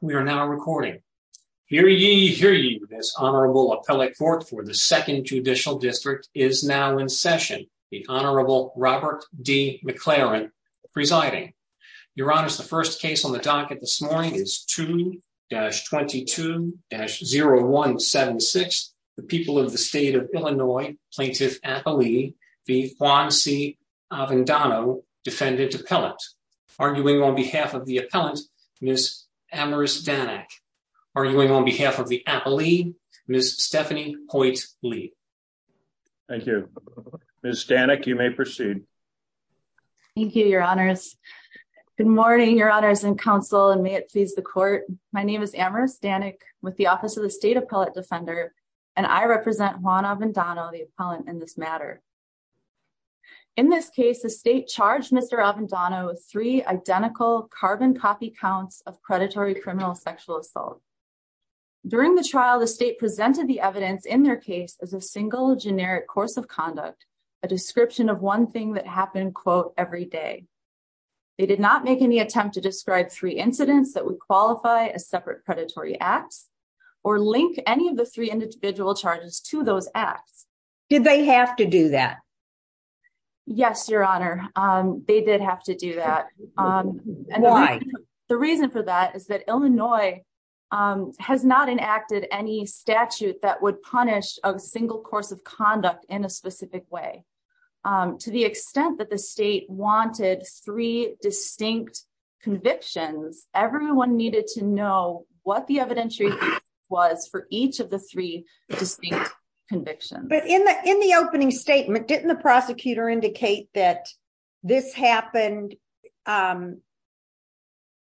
We are now recording. Hear ye, hear ye. This Honorable Appellate Court for the Second Judicial District is now in session. The Honorable Robert D. McLaren presiding. Your Honors, the first case on the docket this morning is 2-22-0176. The people of the state of Illinois, Plaintiff Appellee v. Juan C. Avendano, Defendant Appellate. Arguing on behalf of the Appellant, Ms. Amaris Danek. Arguing on behalf of the Appellee, Ms. Stephanie Hoyt Lee. Thank you. Ms. Danek, you may proceed. Thank you, Your Honors. Good morning, Your Honors and Counsel, and may it please the Court. My name is Amaris Danek with the Office of the State Appellate Defender, and I represent Juan Avendano, the Appellant, in this matter. In this case, the state charged Mr. Avendano with three identical carbon copy counts of predatory criminal sexual assault. During the trial, the state presented the evidence in their case as a single generic course of conduct, a description of one thing that happened, quote, every day. They did not make any attempt to describe three incidents that would qualify as separate predatory acts or link any of the three individual charges to those acts. Did they have to do that? Yes, Your Honor, they did have to do that. Why? The reason for that is that Illinois has not enacted any statute that would punish a single course of conduct in a specific way. To the extent that the state wanted three distinct convictions, everyone needed to know what the evidentiary was for each of the three distinct convictions. But in the opening statement, didn't the prosecutor indicate that this happened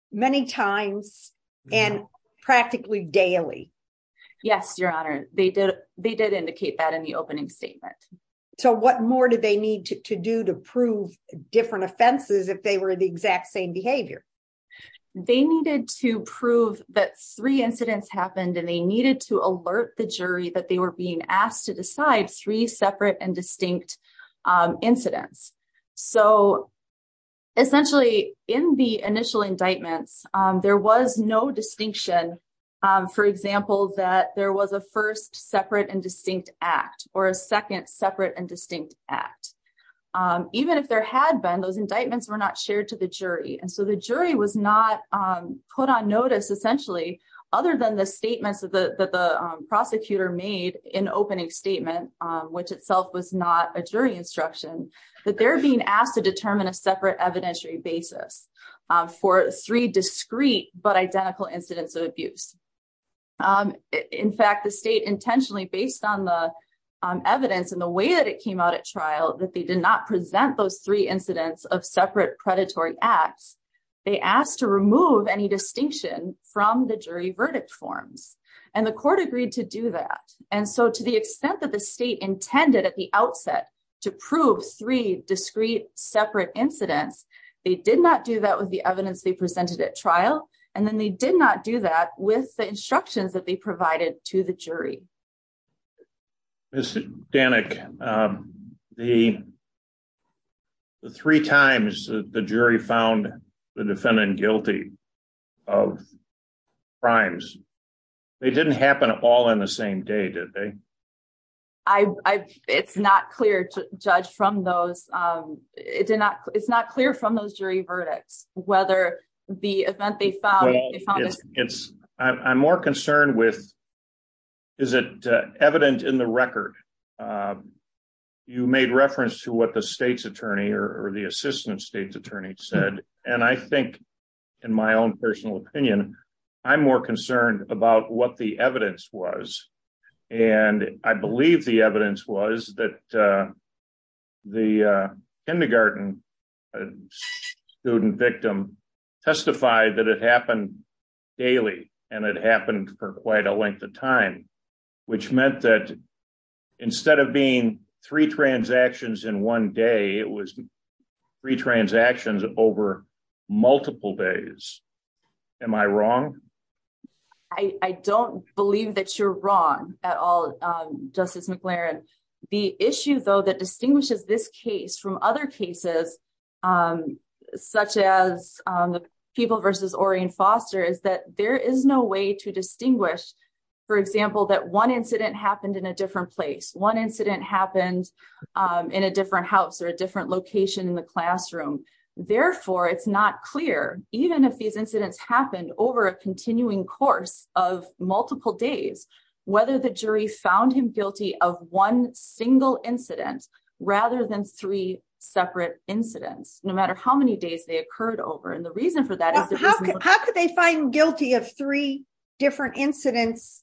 many times and practically daily? Yes, Your Honor, they did indicate that in the opening statement. So what more did they need to do to prove different offenses if they were the exact same behavior? They needed to prove that three incidents happened and they needed to alert the jury that they were being asked to decide three separate and distinct incidents. So essentially, in the initial indictments, there was no distinction. For example, that there was a first separate and distinct act or a second separate and distinct act. Even if there had been, those indictments were not shared to the jury. And so the jury was not put on notice, essentially, other than the statements that the prosecutor made in opening statement, which itself was not a jury instruction, that they're being asked to determine a separate evidentiary basis for three discrete but identical incidents of abuse. In fact, the state intentionally, based on the evidence and the way that it came out at trial, that they did not present those incidents of separate predatory acts, they asked to remove any distinction from the jury verdict forms. And the court agreed to do that. And so to the extent that the state intended at the outset to prove three discrete separate incidents, they did not do that with the evidence they presented at trial. And then they did not do that with the instructions that they provided to the jury. Mr. Danik, the three times the jury found the defendant guilty of crimes, they didn't happen all in the same day, did they? I, it's not clear, Judge, from those, it did not, it's not clear from those jury verdicts, whether the event they found, they found it's, I'm more concerned with, is it evident in the record? You made reference to what the state's attorney or the assistant state's attorney said. And I think in my own personal opinion, I'm more concerned about what the evidence was. And I believe the evidence was that the kindergarten student victim testified that it happened daily. And it happened for quite a length of time, which meant that instead of being three transactions in one day, it was three transactions over multiple days. Am I wrong? I don't believe that you're wrong at all, Justice McLaren. The issue though, that distinguishes this case from other cases, such as the people versus Orian Foster is that there is no way to distinguish, for example, that one incident happened in a different place, one incident happened in a different house or a different location in the classroom. Therefore, it's not clear, even if these incidents happened over a continuing course of multiple days, whether the jury found him guilty of one single incident, rather than three separate incidents, no matter how many days they occurred over. And the reason for that, how could they find guilty of three different incidents?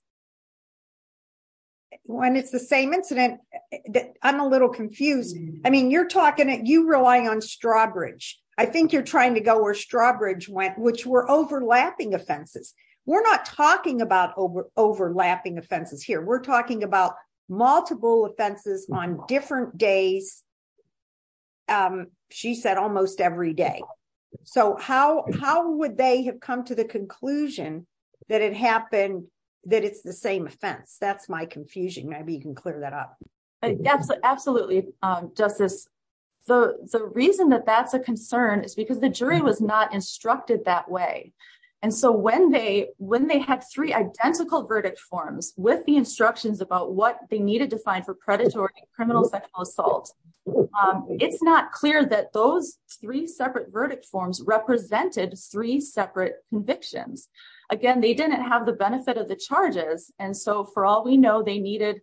When it's the same incident that I'm a little confused. I mean, you're talking on Strawbridge. I think you're trying to go where Strawbridge went, which were overlapping offenses. We're not talking about overlapping offenses here. We're talking about multiple offenses on different days. She said almost every day. So how would they have come to the conclusion that it happened, that it's the same offense? That's my confusion. Maybe you can clear that up. Absolutely, Justice. The reason that that's a concern is because the jury was not instructed that way. And so when they had three identical verdict forms with the instructions about what they needed to find for predatory criminal sexual assault, it's not clear that those three separate verdict forms represented three separate convictions. Again, they didn't have benefit of the charges. And so for all we know, they needed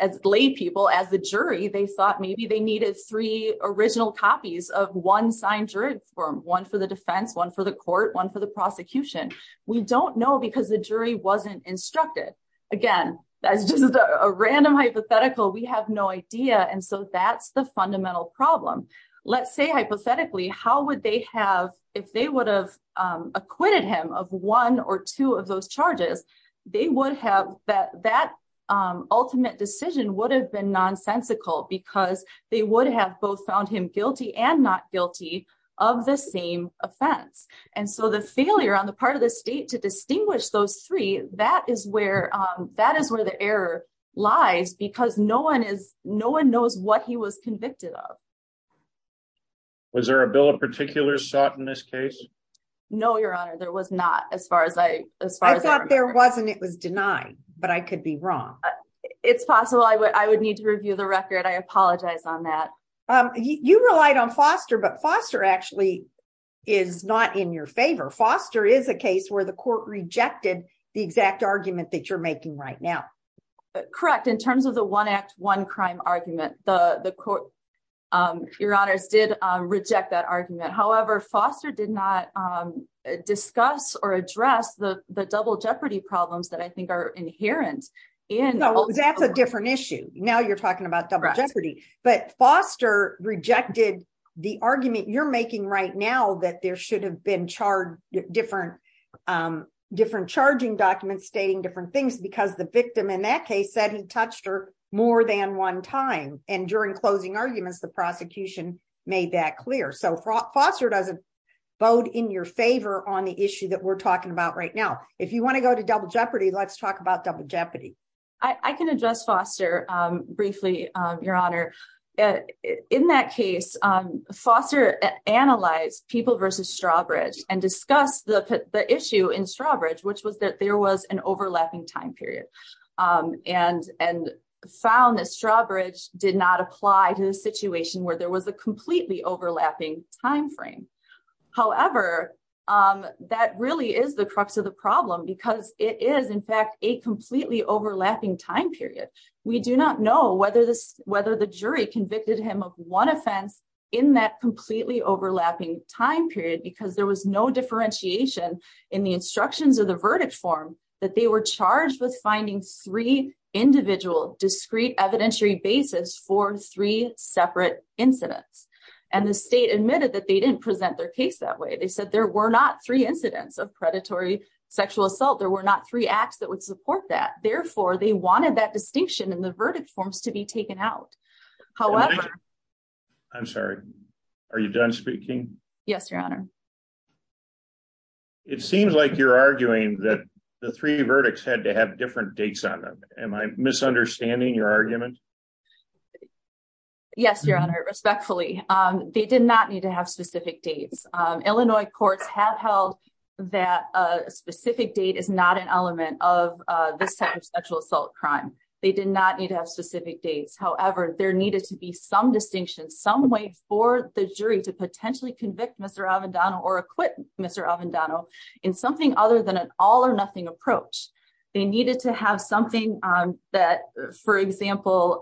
as lay people as the jury, they thought maybe they needed three original copies of one signed jury form, one for the defense, one for the court, one for the prosecution. We don't know because the jury wasn't instructed. Again, that's just a random hypothetical. We have no idea. And so that's the fundamental problem. Let's say they would have that ultimate decision would have been nonsensical because they would have both found him guilty and not guilty of the same offense. And so the failure on the part of the state to distinguish those three, that is where the error lies because no one knows what he was convicted of. Was there a bill of particulars sought in this case? No, Your Honor, there was not as far as I as far as I thought there wasn't it was denied, but I could be wrong. It's possible I would I would need to review the record. I apologize on that. You relied on Foster, but Foster actually is not in your favor. Foster is a case where the court rejected the exact argument that you're making right now. Correct. In terms of the one act one discuss or address the the double jeopardy problems that I think are inherent in that's a different issue. Now you're talking about double jeopardy. But Foster rejected the argument you're making right now that there should have been charged different different charging documents stating different things because the victim in that case said he touched her more than one time. And during closing arguments, the prosecution made that clear. So Foster doesn't vote in your favor on the issue that we're talking about right now. If you want to go to double jeopardy, let's talk about double jeopardy. I can address Foster briefly, Your Honor. In that case, Foster analyzed people versus Strawbridge and discuss the issue in Strawbridge, which was that was an overlapping time period and and found that Strawbridge did not apply to the situation where there was a completely overlapping time frame. However, that really is the crux of the problem, because it is, in fact, a completely overlapping time period. We do not know whether this whether the jury convicted him of one offense in that completely overlapping time period because there was no differentiation in the instructions of the verdict form that they were charged with finding three individual discrete evidentiary basis for three separate incidents. And the state admitted that they didn't present their case that way. They said there were not three incidents of predatory sexual assault. There were not three acts that would support that. Therefore, they wanted that distinction in the verdict forms to be taken out. However, I'm sorry. Are you done speaking? Yes, Your Honor. It seems like you're arguing that the three verdicts had to have different dates on them. Am I misunderstanding your argument? Yes, Your Honor, respectfully. They did not need to have specific dates. Illinois courts have held that a specific date is not an element of this type of sexual assault crime. They did not need to have specific dates. However, there needed to be some distinction, some way for the jury to potentially convict Mr. Avendano or acquit Mr. Avendano in something other than an all or nothing approach. They needed to have something that, for example,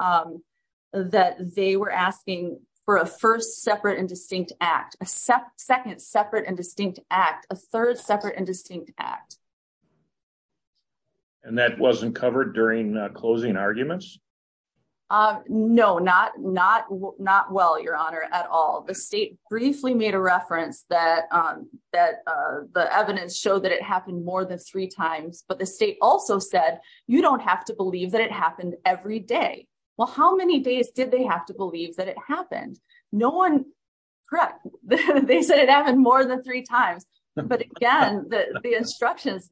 that they were asking for a first separate and distinct act, a second separate and distinct act, a third separate and distinct act. And that wasn't covered during closing arguments? No, not well, Your Honor, at all. The state briefly made a reference that the evidence showed that it happened more than three times. But the state also said, you don't have to believe that it happened every day. Well, how many days did they have to believe that it happened? No one, correct. They said it happened more than three times. But again, the instructions,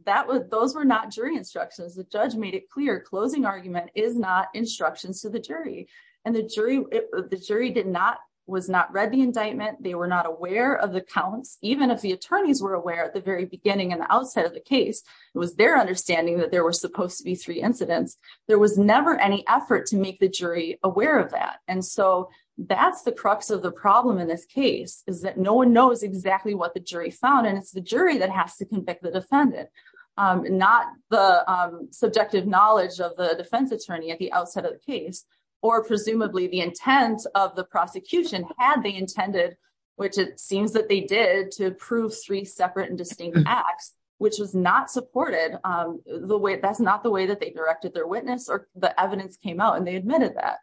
those were not jury instructions. The judge made it clear, closing argument is not instructions to the jury. And the jury did not, was not read the indictment. They were not aware of the counts. Even if the attorneys were aware at the very beginning and the outset of the case, it was their understanding that there were supposed to be three incidents. There was never any effort to make the jury aware of that. And so that's the crux of the problem in this case, is that no one knows exactly what the jury found. And it's the jury that has to convict the defendant, not the subjective knowledge of the defense attorney at the outset of the case, or presumably the intent of the prosecution had they intended, which it seems that they did to prove three separate and distinct acts, which was not supported the way that's not the way that they directed their witness or the evidence came out and they admitted that.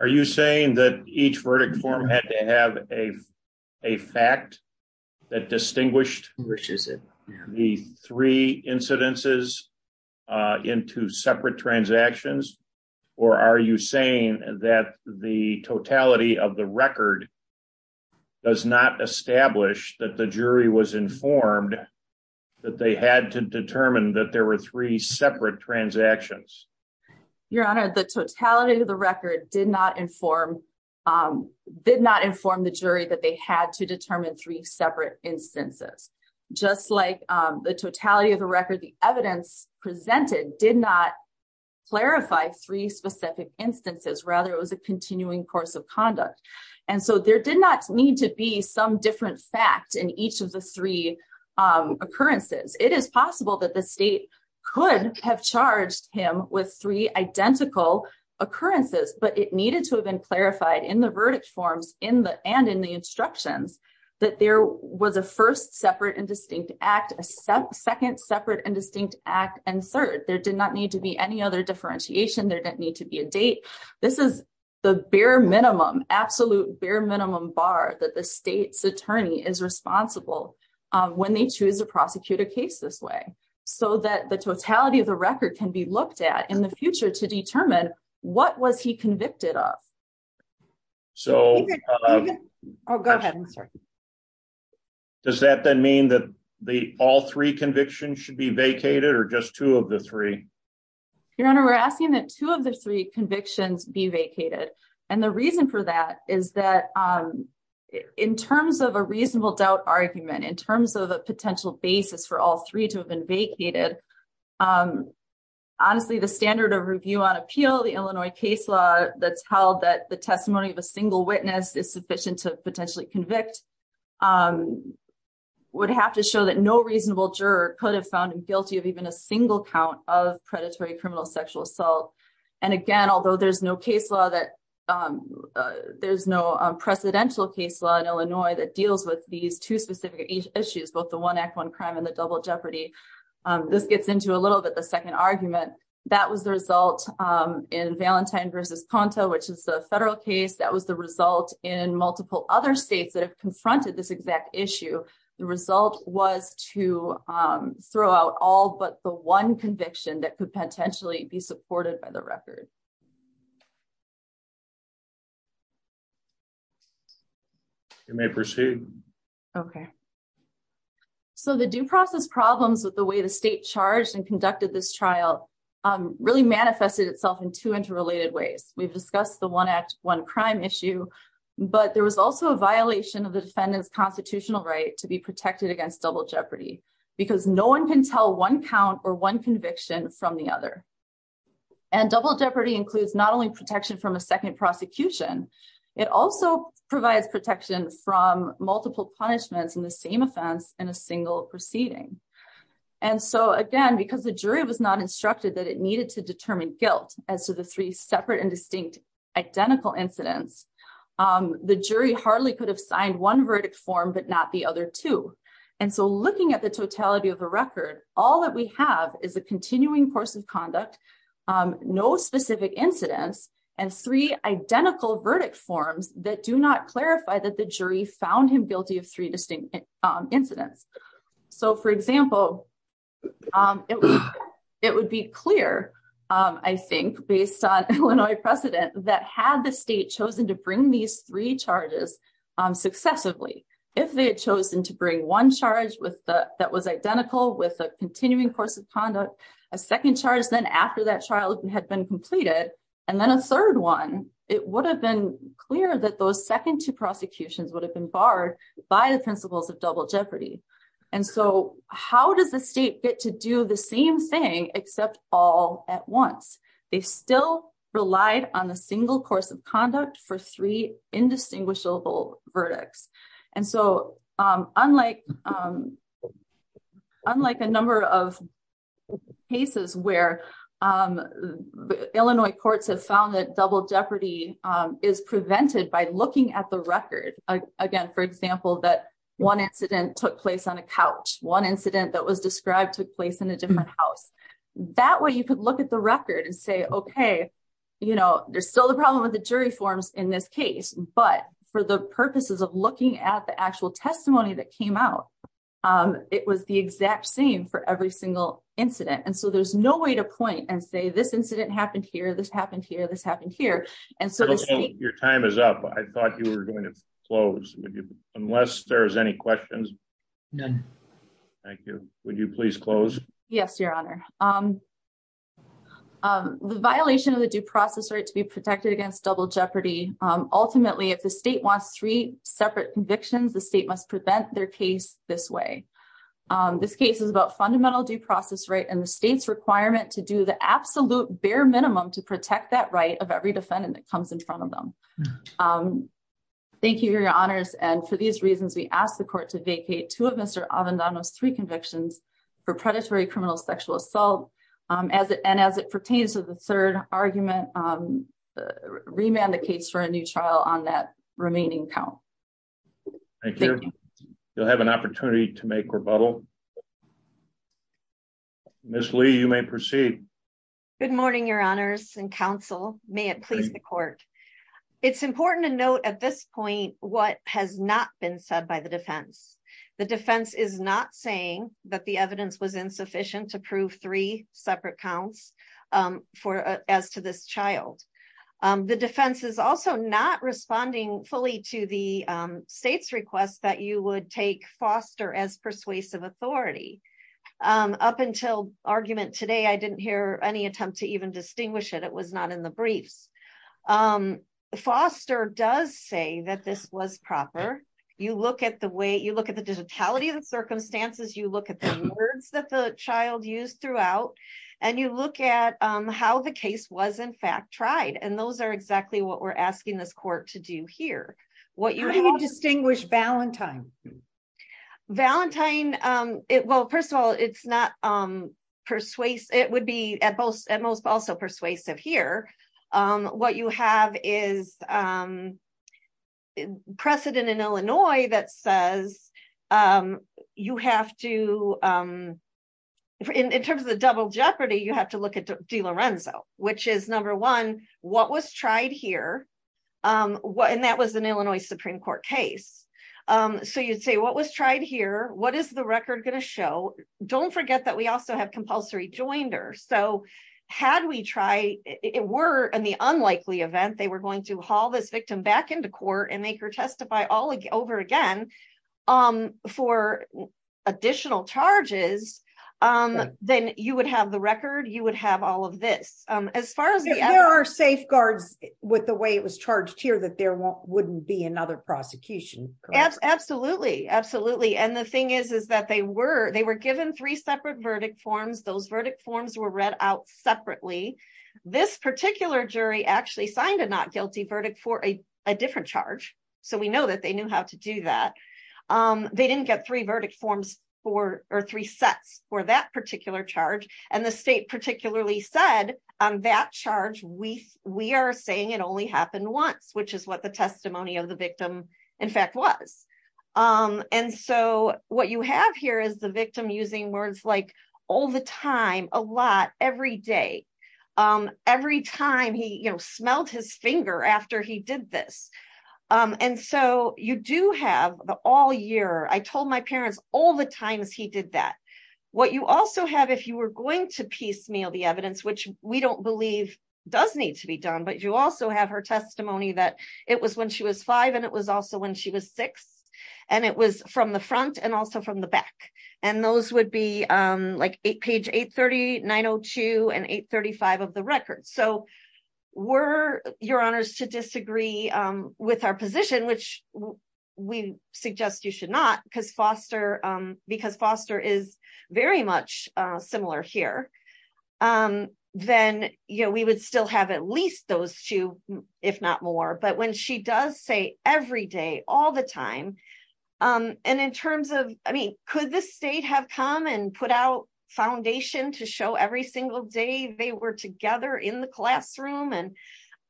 Are you saying that each verdict form had to have a fact that distinguished the three incidences into separate transactions? Or are you saying that the totality of the record does not establish that the jury was informed that they had to determine that there were three transactions? Your Honor, the totality of the record did not inform the jury that they had to determine three separate instances. Just like the totality of the record, the evidence presented did not clarify three specific instances, rather it was a continuing course of conduct. And so there did not need to be some different fact in each of the three occurrences. It is possible that the state could have charged him with three identical occurrences, but it needed to have been clarified in the verdict forms and in the instructions that there was a first separate and distinct act, a second separate and distinct act, and third. There did not need to be any other differentiation. There didn't need to be a date. This is the bare minimum, absolute bare minimum that the state's attorney is responsible when they choose to prosecute a case this way, so that the totality of the record can be looked at in the future to determine what was he convicted of. So does that then mean that the all three convictions should be vacated or just two of the three? Your Honor, we're asking that two of the three convictions be vacated. And the reason for that is that in terms of a reasonable doubt argument, in terms of a potential basis for all three to have been vacated, honestly, the standard of review on appeal, the Illinois case law that's held that the testimony of a single witness is sufficient to potentially convict, would have to show that no reasonable juror could have found him guilty of even a single count of predatory case. There's no presidential case law in Illinois that deals with these two specific issues, both the one act, one crime, and the double jeopardy. This gets into a little bit the second argument. That was the result in Valentine versus Ponto, which is a federal case. That was the result in multiple other states that have confronted this exact issue. The result was to throw out all but the one conviction that could potentially be supported by the record. You may proceed. Okay. So the due process problems with the way the state charged and conducted this trial really manifested itself in two interrelated ways. We've discussed the one act, one crime issue, but there was also a violation of the defendant's constitutional right to be protected against double jeopardy because no one can tell one count or one conviction from the other. Double jeopardy includes not only protection from a second prosecution, it also provides protection from multiple punishments in the same offense in a single proceeding. Again, because the jury was not instructed that it needed to determine guilt as to the three separate and distinct identical incidents, the jury hardly could have signed one verdict form but not the other two. Looking at the totality of the record, all that we have is a continuing course of conduct, no specific incidents, and three identical verdict forms that do not clarify that the jury found him guilty of three distinct incidents. For example, it would be clear, I think, based on Illinois precedent, that had the state chosen to bring these three charges successively, if they had chosen to bring one charge that was identical with a continuing course of conduct, a second charge then after that trial had been completed, and then a third one, it would have been clear that those second two prosecutions would have been barred by the principles of double jeopardy. How does the state get to do the same thing except all at once? They still relied on a single course of conduct for three cases. Unlike a number of cases where Illinois courts have found that double jeopardy is prevented by looking at the record. Again, for example, that one incident took place on a couch, one incident that was described took place in a different house. That way you could look at the record and say, okay, you know, there's still the problem with the jury forms in this case, but for the purposes of looking at the actual testimony that came out, it was the exact same for every single incident. And so there's no way to point and say, this incident happened here, this happened here, this happened here. And so your time is up. I thought you were going to close unless there's any questions. Thank you. Would you please close? Yes, Your Honor. The violation of the due process right to be protected against double jeopardy. Ultimately, if the state wants three separate convictions, the state must prevent their case this way. This case is about fundamental due process right and the state's requirement to do the absolute bare minimum to protect that right of every defendant that comes in front of them. Thank you, Your Honors. And for these reasons, we ask the court to vacate two of Mr. Avendano's three convictions for predatory criminal sexual assault. And as it pertains to the third argument, remand the case for a new trial on that remaining count. Thank you. You'll have an opportunity to make rebuttal. Ms. Lee, you may proceed. Good morning, Your Honors and counsel. May it please the court. It's important to note at this point, what has not been said by the defense. The defense is not saying that the evidence was insufficient to prove three separate counts as to this child. The defense is also not responding fully to the state's request that you would take Foster as persuasive authority. Up until argument today, I didn't hear any attempt to even distinguish it. It was not in the briefs. Foster does say that this was proper. You look at the way, you look at the digitality of the circumstances, you look at the words that the child used throughout, and you look at how the case was in fact tried. And those are exactly what we're asking this court to do here. How do you distinguish Valentine? Valentine, well, first of all, it's not persuasive. It would be at most also persuasive here. What you have is precedent in Illinois that says you have to, in terms of the double jeopardy, you have to look at DeLorenzo, which is number one, what was tried here? And that was an Illinois Supreme Court case. So you'd say what was tried here? What is the record going to show? Don't it were in the unlikely event they were going to haul this victim back into court and make her testify all over again for additional charges, then you would have the record, you would have all of this. There are safeguards with the way it was charged here that there wouldn't be another prosecution. Absolutely. Absolutely. And the thing is, is that they were given three separate verdict forms. Those verdict forms were read out separately. This particular jury actually signed a not guilty verdict for a different charge. So we know that they knew how to do that. They didn't get three verdict forms or three sets for that particular charge. And the state particularly said on that charge, we are saying it only happened once, which is what the testimony of the victim using words like all the time, a lot every day. Every time he smelled his finger after he did this. And so you do have the all year, I told my parents all the times he did that. What you also have, if you were going to piecemeal the evidence, which we don't believe does need to be done, but you also have her testimony that it was when she was five. And it was also when she was six and it was from the front and also from the back. And those would be like page 830, 902 and 835 of the record. So were your honors to disagree with our position, which we suggest you should not because Foster is very much similar here. Then, you know, we would still have at least those two, if not more. But when she does say every day, all the time. And in terms of, I mean, could the state have come and put out foundation to show every single day they were together in the classroom? And,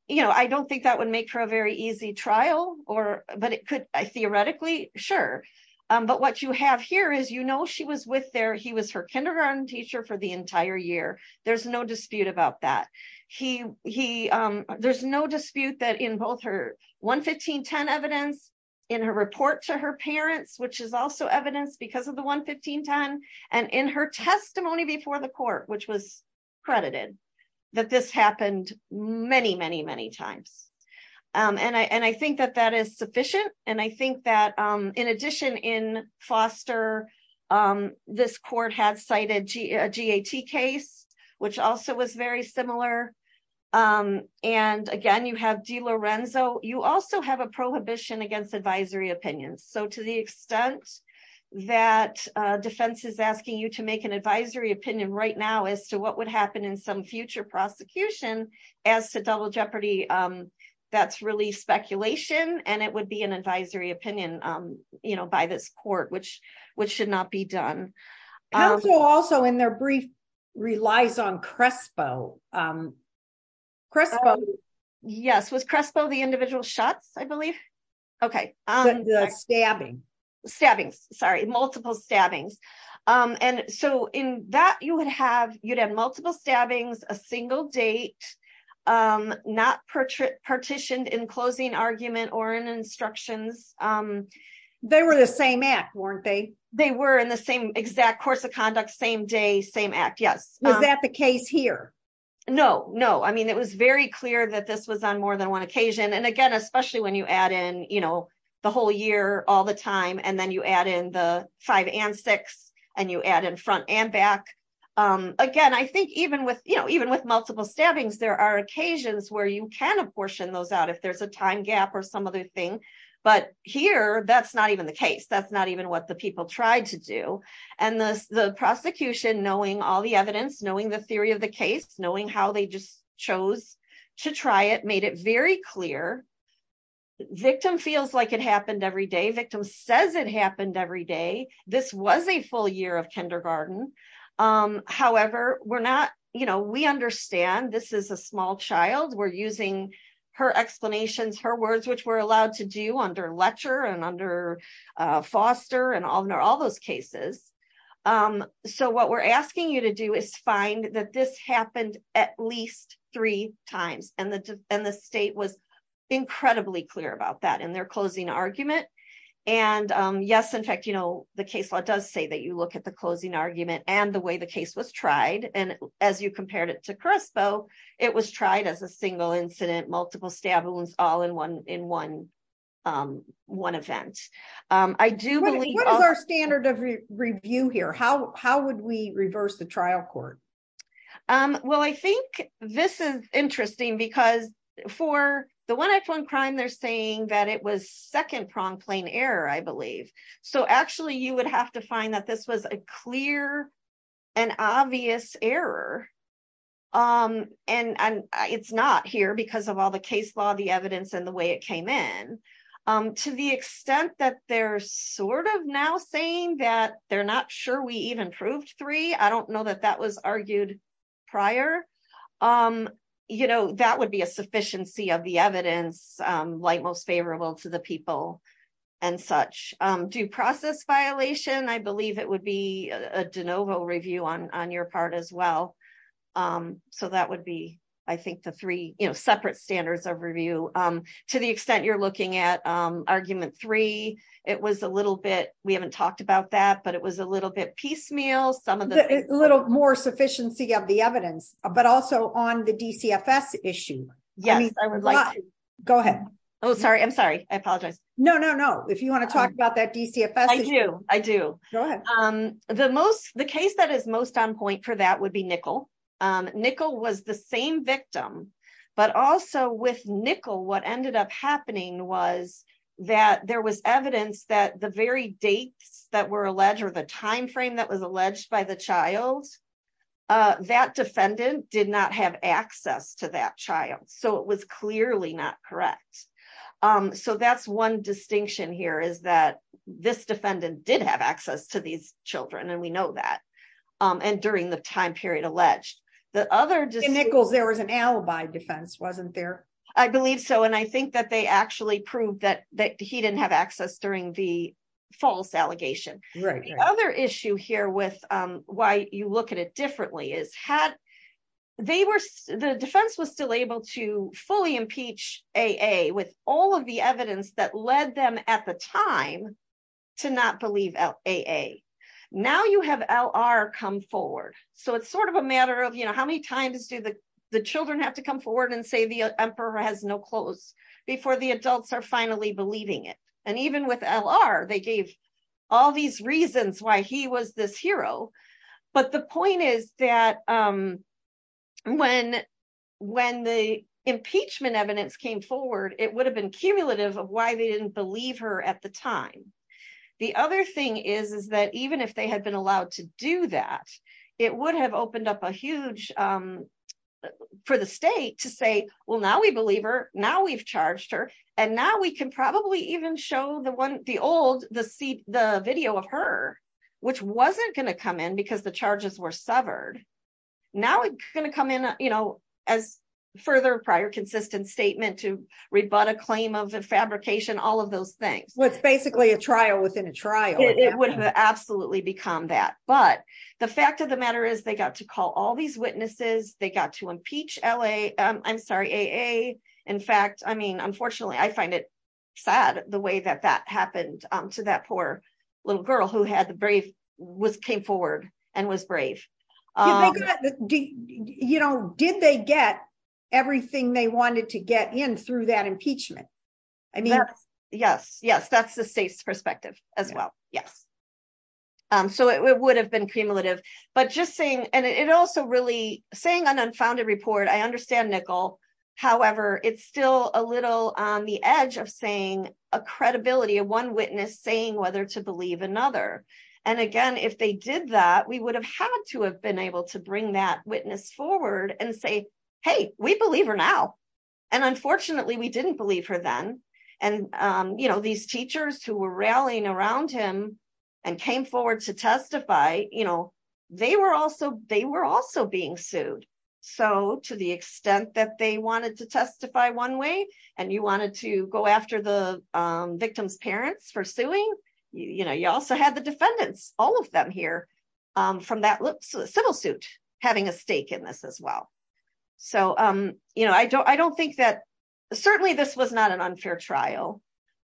you know, I don't think that would make for a very easy trial or, but it could theoretically, sure. But what you have here is, you know, she was with their, he was her kindergarten teacher for the entire year. There's no dispute about that. He, there's no dispute that in both her 11510 evidence, in her report to her parents, which is also evidence because of the 11510 and in her testimony before the court, which was credited that this happened many, many, many times. And I, and I think that that is sufficient. And I think that in addition in Foster, this court had cited a GAT case, which also was very similar. And again, you have de Lorenzo, you also have a prohibition against advisory opinions. So to the extent that defense is asking you to make an advisory opinion right now as to what would happen in some future prosecution as to double jeopardy, that's really speculation. And it would be an advisory opinion, you know, by this court, which, which should not be done. Also, also in their brief, relies on Crespo. Crespo. Yes, was Crespo the individual shots, I believe. Okay. The stabbing, stabbing, sorry, multiple stabbings. And so in that you would have, you'd have multiple stabbings, a single date, not portrait partitioned in closing argument or in instructions. They were the same act, weren't they? They were in the same exact course of conduct, same day, same act. Yes. Was that the case here? No, no. I mean, it was very clear that this was on more than one occasion. And again, especially when you add in, you know, the whole year all the with, you know, even with multiple stabbings, there are occasions where you can apportion those out if there's a time gap or some other thing. But here, that's not even the case. That's not even what the people tried to do. And the prosecution knowing all the evidence, knowing the theory of the case, knowing how they just chose to try it made it very clear. Victim feels like it happened every day. Victim says it happened every day. This was a full year of kindergarten. However, we're not, you know, we understand this is a small child. We're using her explanations, her words, which were allowed to do under Letcher and under Foster and all those cases. So what we're asking you to do is find that this happened at least three times. And the state was incredibly clear about that in their closing argument. And yes, in fact, you know, the case law does say that you look at the closing argument and the way the case was tried. And as you compared it to CRISPO, it was tried as a single incident, multiple stab wounds, all in one event. What is our standard of review here? How would we reverse the trial court? Well, I think this is interesting because for the 1F1 crime, they're saying that it was second prong plane error, I believe. So actually, you would have to find that this was a clear and obvious error. And it's not here because of all the case law, the evidence and the way it came in. To the extent that they're sort of now saying that they're not sure we even proved three, I don't know that that was argued prior. You know, that would be a sufficiency of the evidence, like most favorable to the people and such. Due process violation, I believe it would be a de novo review on your part as well. So that would be, I think, the three, you know, separate standards of review. To the extent you're looking at argument three, it was a little bit, we haven't talked about that, but it was a little bit piecemeal. A little more sufficiency of the evidence, but also on the DCFS issue. Yes, I would like to. Go ahead. Oh, sorry. I'm sorry. I apologize. No, no, no. If you want to talk about that DCFS. I do. I do. Go ahead. The case that is most on point for that would be Nickel. Nickel was the same victim. But also with Nickel, what ended up happening was that there was the child. That defendant did not have access to that child. So it was clearly not correct. So that's one distinction here is that this defendant did have access to these children. And we know that. And during the time period alleged that other just Nichols, there was an alibi defense wasn't there? I believe so. And I think that they actually proved that that he didn't have access during the false allegation. The other issue here with why you look at it differently is had they were the defense was still able to fully impeach A.A. with all of the evidence that led them at the time to not believe out A.A. Now you have L.R. come forward. So it's sort of a matter of, you know, how many times do the children have to come forward and say the emperor has no clothes before the adults are finally believing it? Even with L.R., they gave all these reasons why he was this hero. But the point is that when the impeachment evidence came forward, it would have been cumulative of why they didn't believe her at the time. The other thing is that even if they had been allowed to do that, it would have opened up a huge for the state to say, well, now we believe her. Now we've charged her. And now we can probably even show the one, the old, the video of her, which wasn't going to come in because the charges were severed. Now it's going to come in, you know, as further prior consistent statement to rebut a claim of the fabrication, all of those things. Well, it's basically a trial within a trial. It would have absolutely become that. But the fact of the matter is they got to call all these I find it sad the way that that happened to that poor little girl who had the brief was came forward and was brave. You know, did they get everything they wanted to get in through that impeachment? I mean, yes, yes. That's the state's perspective as well. Yes. So it would have been cumulative. But just saying and it also really saying an unfounded report. I understand However, it's still a little on the edge of saying a credibility of one witness saying whether to believe another. And again, if they did that, we would have had to have been able to bring that witness forward and say, hey, we believe her now. And unfortunately, we didn't believe her then. And, you know, these teachers who were rallying around him and came forward to testify, you know, they were also they were also being sued. So to the extent that they wanted to testify one way, and you wanted to go after the victim's parents for suing, you know, you also had the defendants, all of them here from that civil suit, having a stake in this as well. So, you know, I don't I don't think that certainly this was not an unfair trial.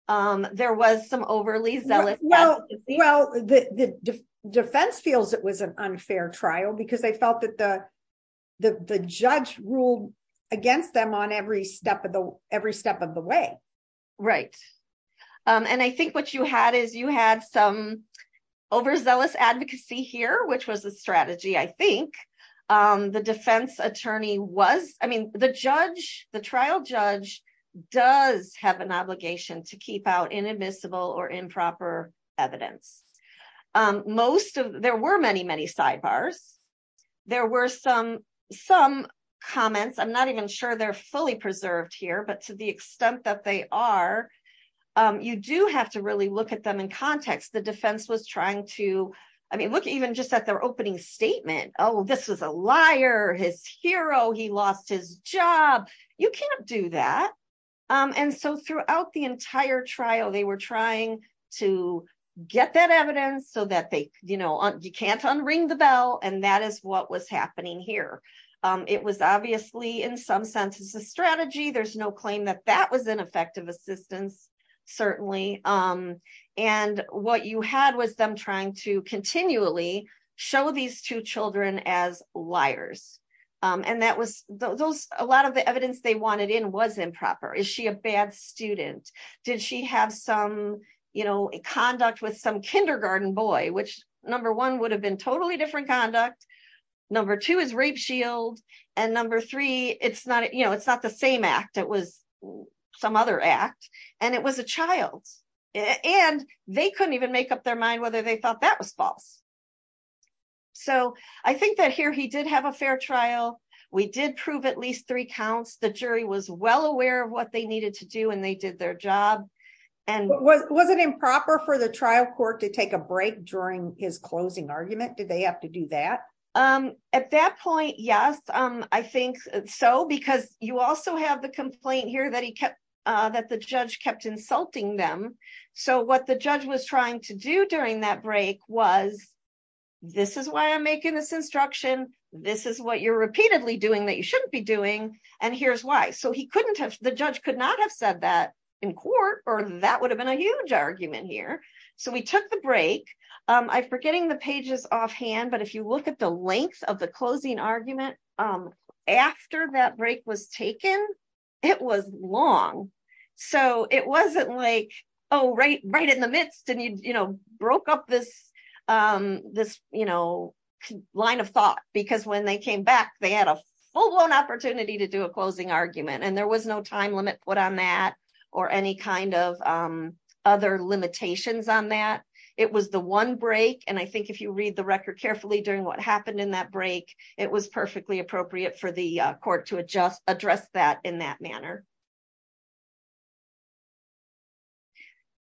There was some overly zealous. Well, the defense feels it was an unfair trial, because they felt that the the judge ruled against them on every step of the every step of the way. Right. And I think what you had is you had some overzealous advocacy here, which was a strategy, I think the defense attorney was I mean, the judge, the trial judge does have an obligation to keep out inadmissible or improper evidence. Most of there were many, many sidebars. There were some, some comments, I'm not even sure they're fully preserved here. But to the extent that they are, you do have to really look at them in context, the defense was trying to, I mean, look even just at their opening statement, oh, this was a liar, his hero, he lost his job, you can't do that. And so throughout the entire trial, they were trying to get that evidence so that they, you know, you can't unring the bell. And that is what was happening here. It was obviously, in some senses, a strategy, there's no claim that that was an effective assistance, certainly. And what you had was them trying to continually show these two children as liars. And that was those a lot of the evidence they wanted in was improper. Is she a bad student? Did she have some, you know, conduct with some kindergarten boy, which number one would have been totally different conduct. Number two is rape shield. And number three, it's not, you know, it's not the same act, it was some other act. And it was a child. And they couldn't even make up mind whether they thought that was false. So I think that here, he did have a fair trial, we did prove at least three counts, the jury was well aware of what they needed to do, and they did their job. And was it improper for the trial court to take a break during his closing argument? Did they have to do that? At that point? Yes, I think so. Because you also have the complaint here that he kept that the judge kept insulting them. So what the judge was trying to do during that break was, this is why I'm making this instruction. This is what you're repeatedly doing that you shouldn't be doing. And here's why. So he couldn't have the judge could not have said that in court, or that would have been a huge argument here. So we took the break, I forgetting the pages offhand. But if you look at the length of the closing argument, after that break was taken, it was long. So it wasn't like, oh, right, right in the midst. And you know, broke up this, this, you know, line of thought, because when they came back, they had a full blown opportunity to do a closing argument. And there was no time limit put on that, or any kind of other limitations on that. It was the one break. And I think if you read the court to adjust address that in that manner.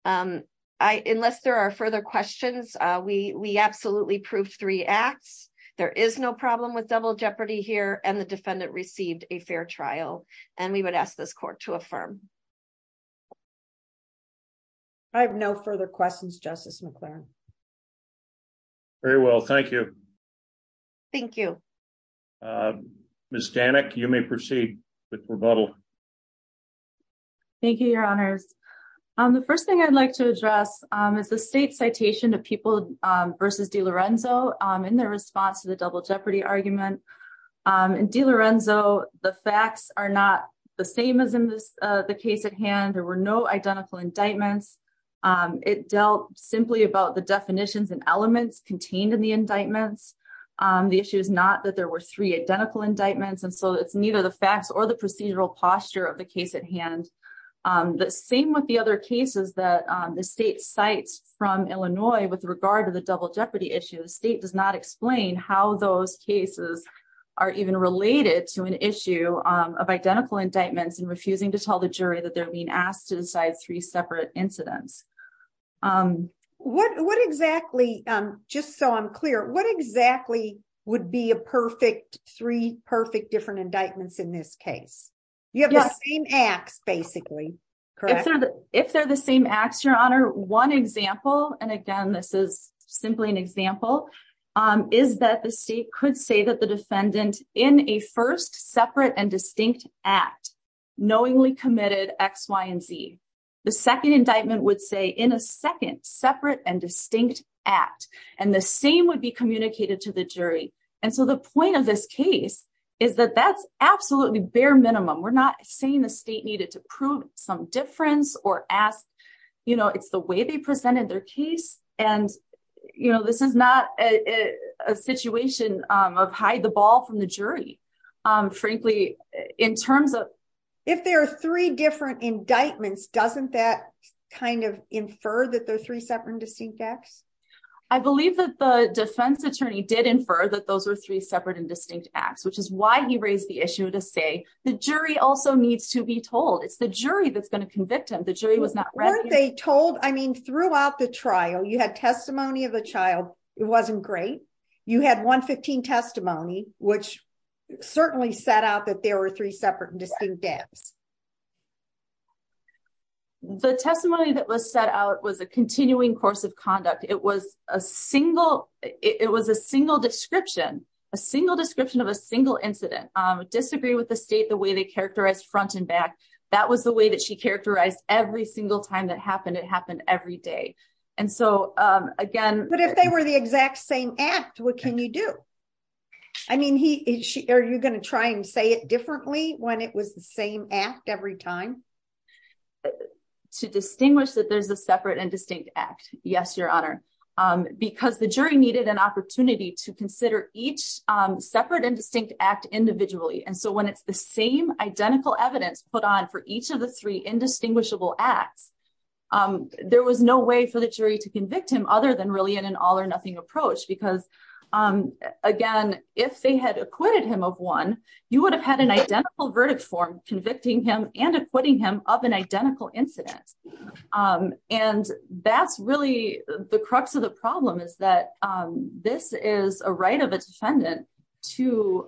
Unless there are further questions, we we absolutely proved three acts, there is no problem with double jeopardy here and the defendant received a fair trial. And we would ask this court to affirm. I have no further questions, Justice McLaren. Very well, thank you. Thank you. Miss Danek, you may proceed with rebuttal. Thank you, Your Honors. The first thing I'd like to address is the state citation of people versus de Lorenzo in their response to the double jeopardy argument. And de Lorenzo, the facts are not the same as in this case at hand, there were no identical indictments. It dealt simply about the definitions and elements contained in the indictments. The issue is not that there were three identical indictments. And so it's neither the facts or the procedural posture of the case at hand. The same with the other cases that the state cites from Illinois with regard to the double jeopardy issue, the state does not explain how those cases are even related to an issue of identical indictments and refusing to tell jury that they're being asked to decide three separate incidents. What exactly, just so I'm clear, what exactly would be a perfect three perfect different indictments in this case? You have the same acts basically, correct? If they're the same acts, Your Honor, one example, and again, this is simply an example, is that the state could say that the defendant in a first separate and distinct act, knowingly committed X, Y, and Z, the second indictment would say in a second separate and distinct act, and the same would be communicated to the jury. And so the point of this case is that that's absolutely bare minimum, we're not saying the state needed to prove some difference or ask, you know, it's the way they presented their case. And, you know, this is not a situation of hide the ball from the jury. Frankly, in terms of if there are three different indictments, doesn't that kind of infer that there are three separate and distinct acts? I believe that the defense attorney did infer that those were three separate and distinct acts, which is why he raised the issue to say the jury also needs to be told it's the jury that's going to convict him. The jury was not read. They told I mean, throughout the trial, you had testimony of a child, it wasn't great. You had 115 testimony, which certainly set out that there were three separate and distinct acts. The testimony that was set out was a continuing course of conduct. It was a single, it was a single description, a single description of a single incident, disagree with the state the way they characterized front and back. That was the way that she characterized every single time that happened. It happened every day. And so, again, but if they were the exact same act, what can you do? I mean, he or she, are you going to try and say it differently when it was the same act every time to distinguish that there's a separate and distinct act? Yes, Your Honor, because the jury needed an opportunity to consider each separate and distinct act individually. And so when it's the same identical evidence put on for each of the three indistinguishable acts, um, there was no way for the jury to convict him other than really in an all or nothing approach, because, again, if they had acquitted him of one, you would have had an identical verdict form convicting him and acquitting him of an identical incident. And that's really the crux of the problem is that this is a right of a defendant to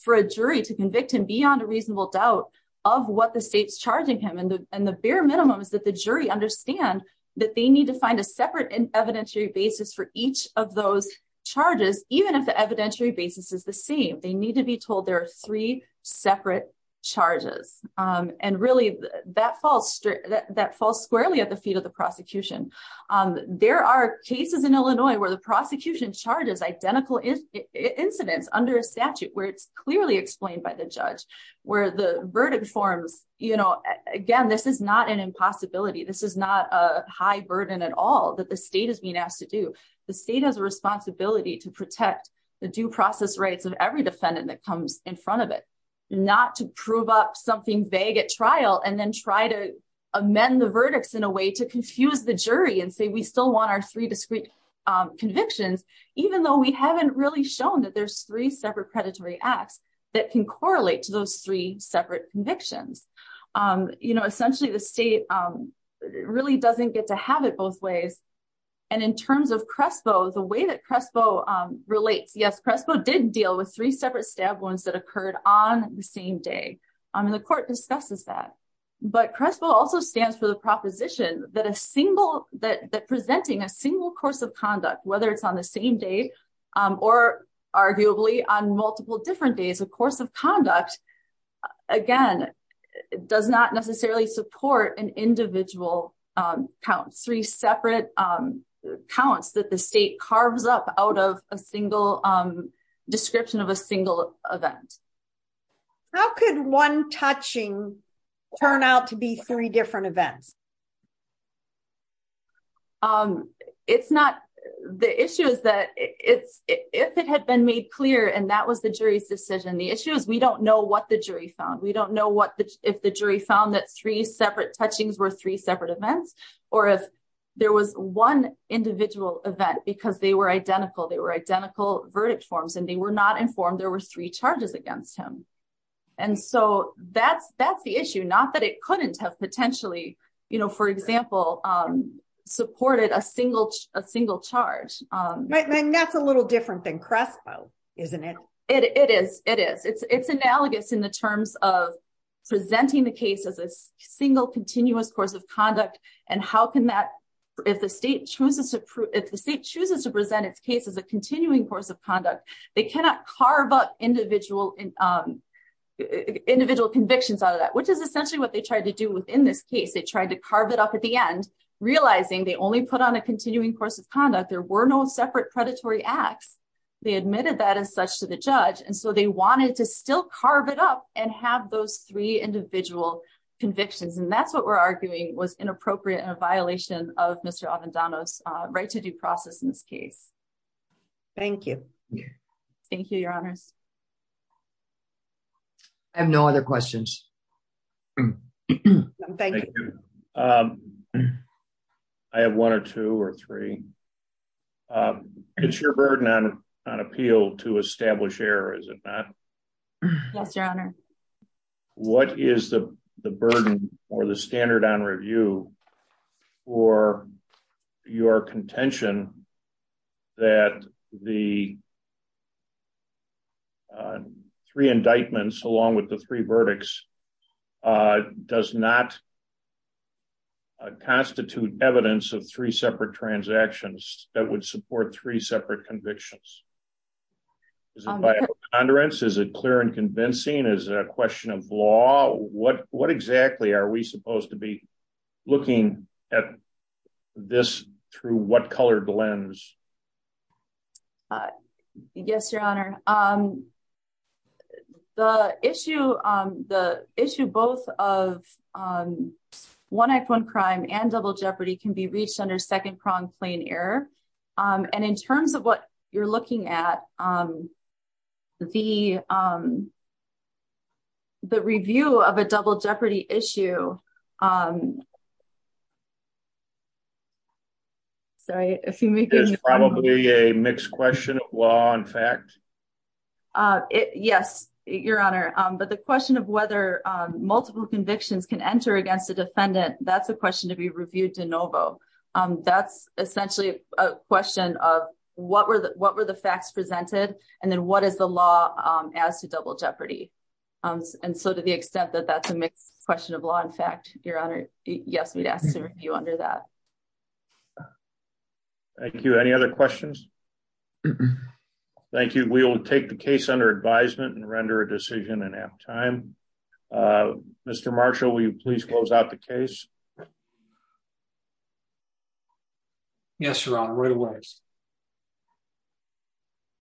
for a jury to convict him beyond a reasonable doubt of what the state's charging him. And the bare minimum is that the jury understand that they need to find a separate and evidentiary basis for each of those charges, even if the evidentiary basis is the same, they need to be told there are three separate charges. And really, that falls squarely at the feet of the prosecution. There are cases in Illinois where the prosecution charges identical incidents under a statute where it's clearly explained by the judge, where the verdict forms, you know, again, this is not an impossibility. This is not a high burden at all that the state has been asked to do. The state has a responsibility to protect the due process rights of every defendant that comes in front of it, not to prove up something vague at trial, and then try to amend the verdicts in a way to confuse the jury and say, we still want our three discrete convictions, even though we haven't really shown that there's three separate acts that can correlate to those three separate convictions. You know, essentially, the state really doesn't get to have it both ways. And in terms of Crespo, the way that Crespo relates, yes, Crespo did deal with three separate stab wounds that occurred on the same day. And the court discusses that. But Crespo also stands for the proposition that a single that presenting a same day, or arguably on multiple different days of course of conduct, again, does not necessarily support an individual count three separate counts that the state carves up out of a single description of a single event. How could one touching turn out to be three different events? Um, it's not the issue is that it's if it had been made clear, and that was the jury's decision, the issue is we don't know what the jury found. We don't know what the if the jury found that three separate touchings were three separate events, or if there was one individual event, because they were identical, they were identical verdict forms, and they were not informed, there were three charges against him. And so that's, that's the issue, not that it couldn't have potentially, you know, for example, supported a single a single charge. And that's a little different than Crespo, isn't it? It is it is it's, it's analogous in the terms of presenting the case as a single continuous course of conduct. And how can that if the state chooses to prove if the state chooses to present its case as a continuing course of conduct, they cannot carve up individual and individual convictions out of that, which is essentially what they tried to do within this case, they tried to carve it up at the end, realizing they only put on a continuing course of conduct, there were no separate predatory acts, they admitted that as such to the judge. And so they wanted to still carve it up and have those three individual convictions. And that's what we're arguing was inappropriate and a violation of Mr. Avendano's right to due process in this case. Thank you. Thank you, Your Honors. I have no other questions. I have one or two or three. It's your burden on on appeal to establish error, is it not? Yes, Your Honor. What is the burden or the standard on review for your contention that the three indictments along with the three verdicts does not constitute evidence of three separate transactions that would support three separate convictions? Is it clear and convincing as a question of law? What what exactly are we supposed to be looking at this through what color lens? Yes, Your Honor. The issue, the issue both of one act, one crime and double jeopardy can be reached under second prong plain error. And in terms of what you're looking at, the the review of a double jeopardy issue. I'm sorry, if you make it is probably a mixed question of law and fact. Yes, Your Honor. But the question of whether multiple convictions can enter against the defendant, that's a question to be reviewed de novo. That's essentially a question of what were the what were the facts presented? And then what is the law as to double jeopardy? And so to the Your Honor? Yes, we'd ask you under that. Thank you. Any other questions? Thank you. We'll take the case under advisement and render a decision and have time. Mr. Marshall, will you please close out the case? Yes, Your Honor, right away.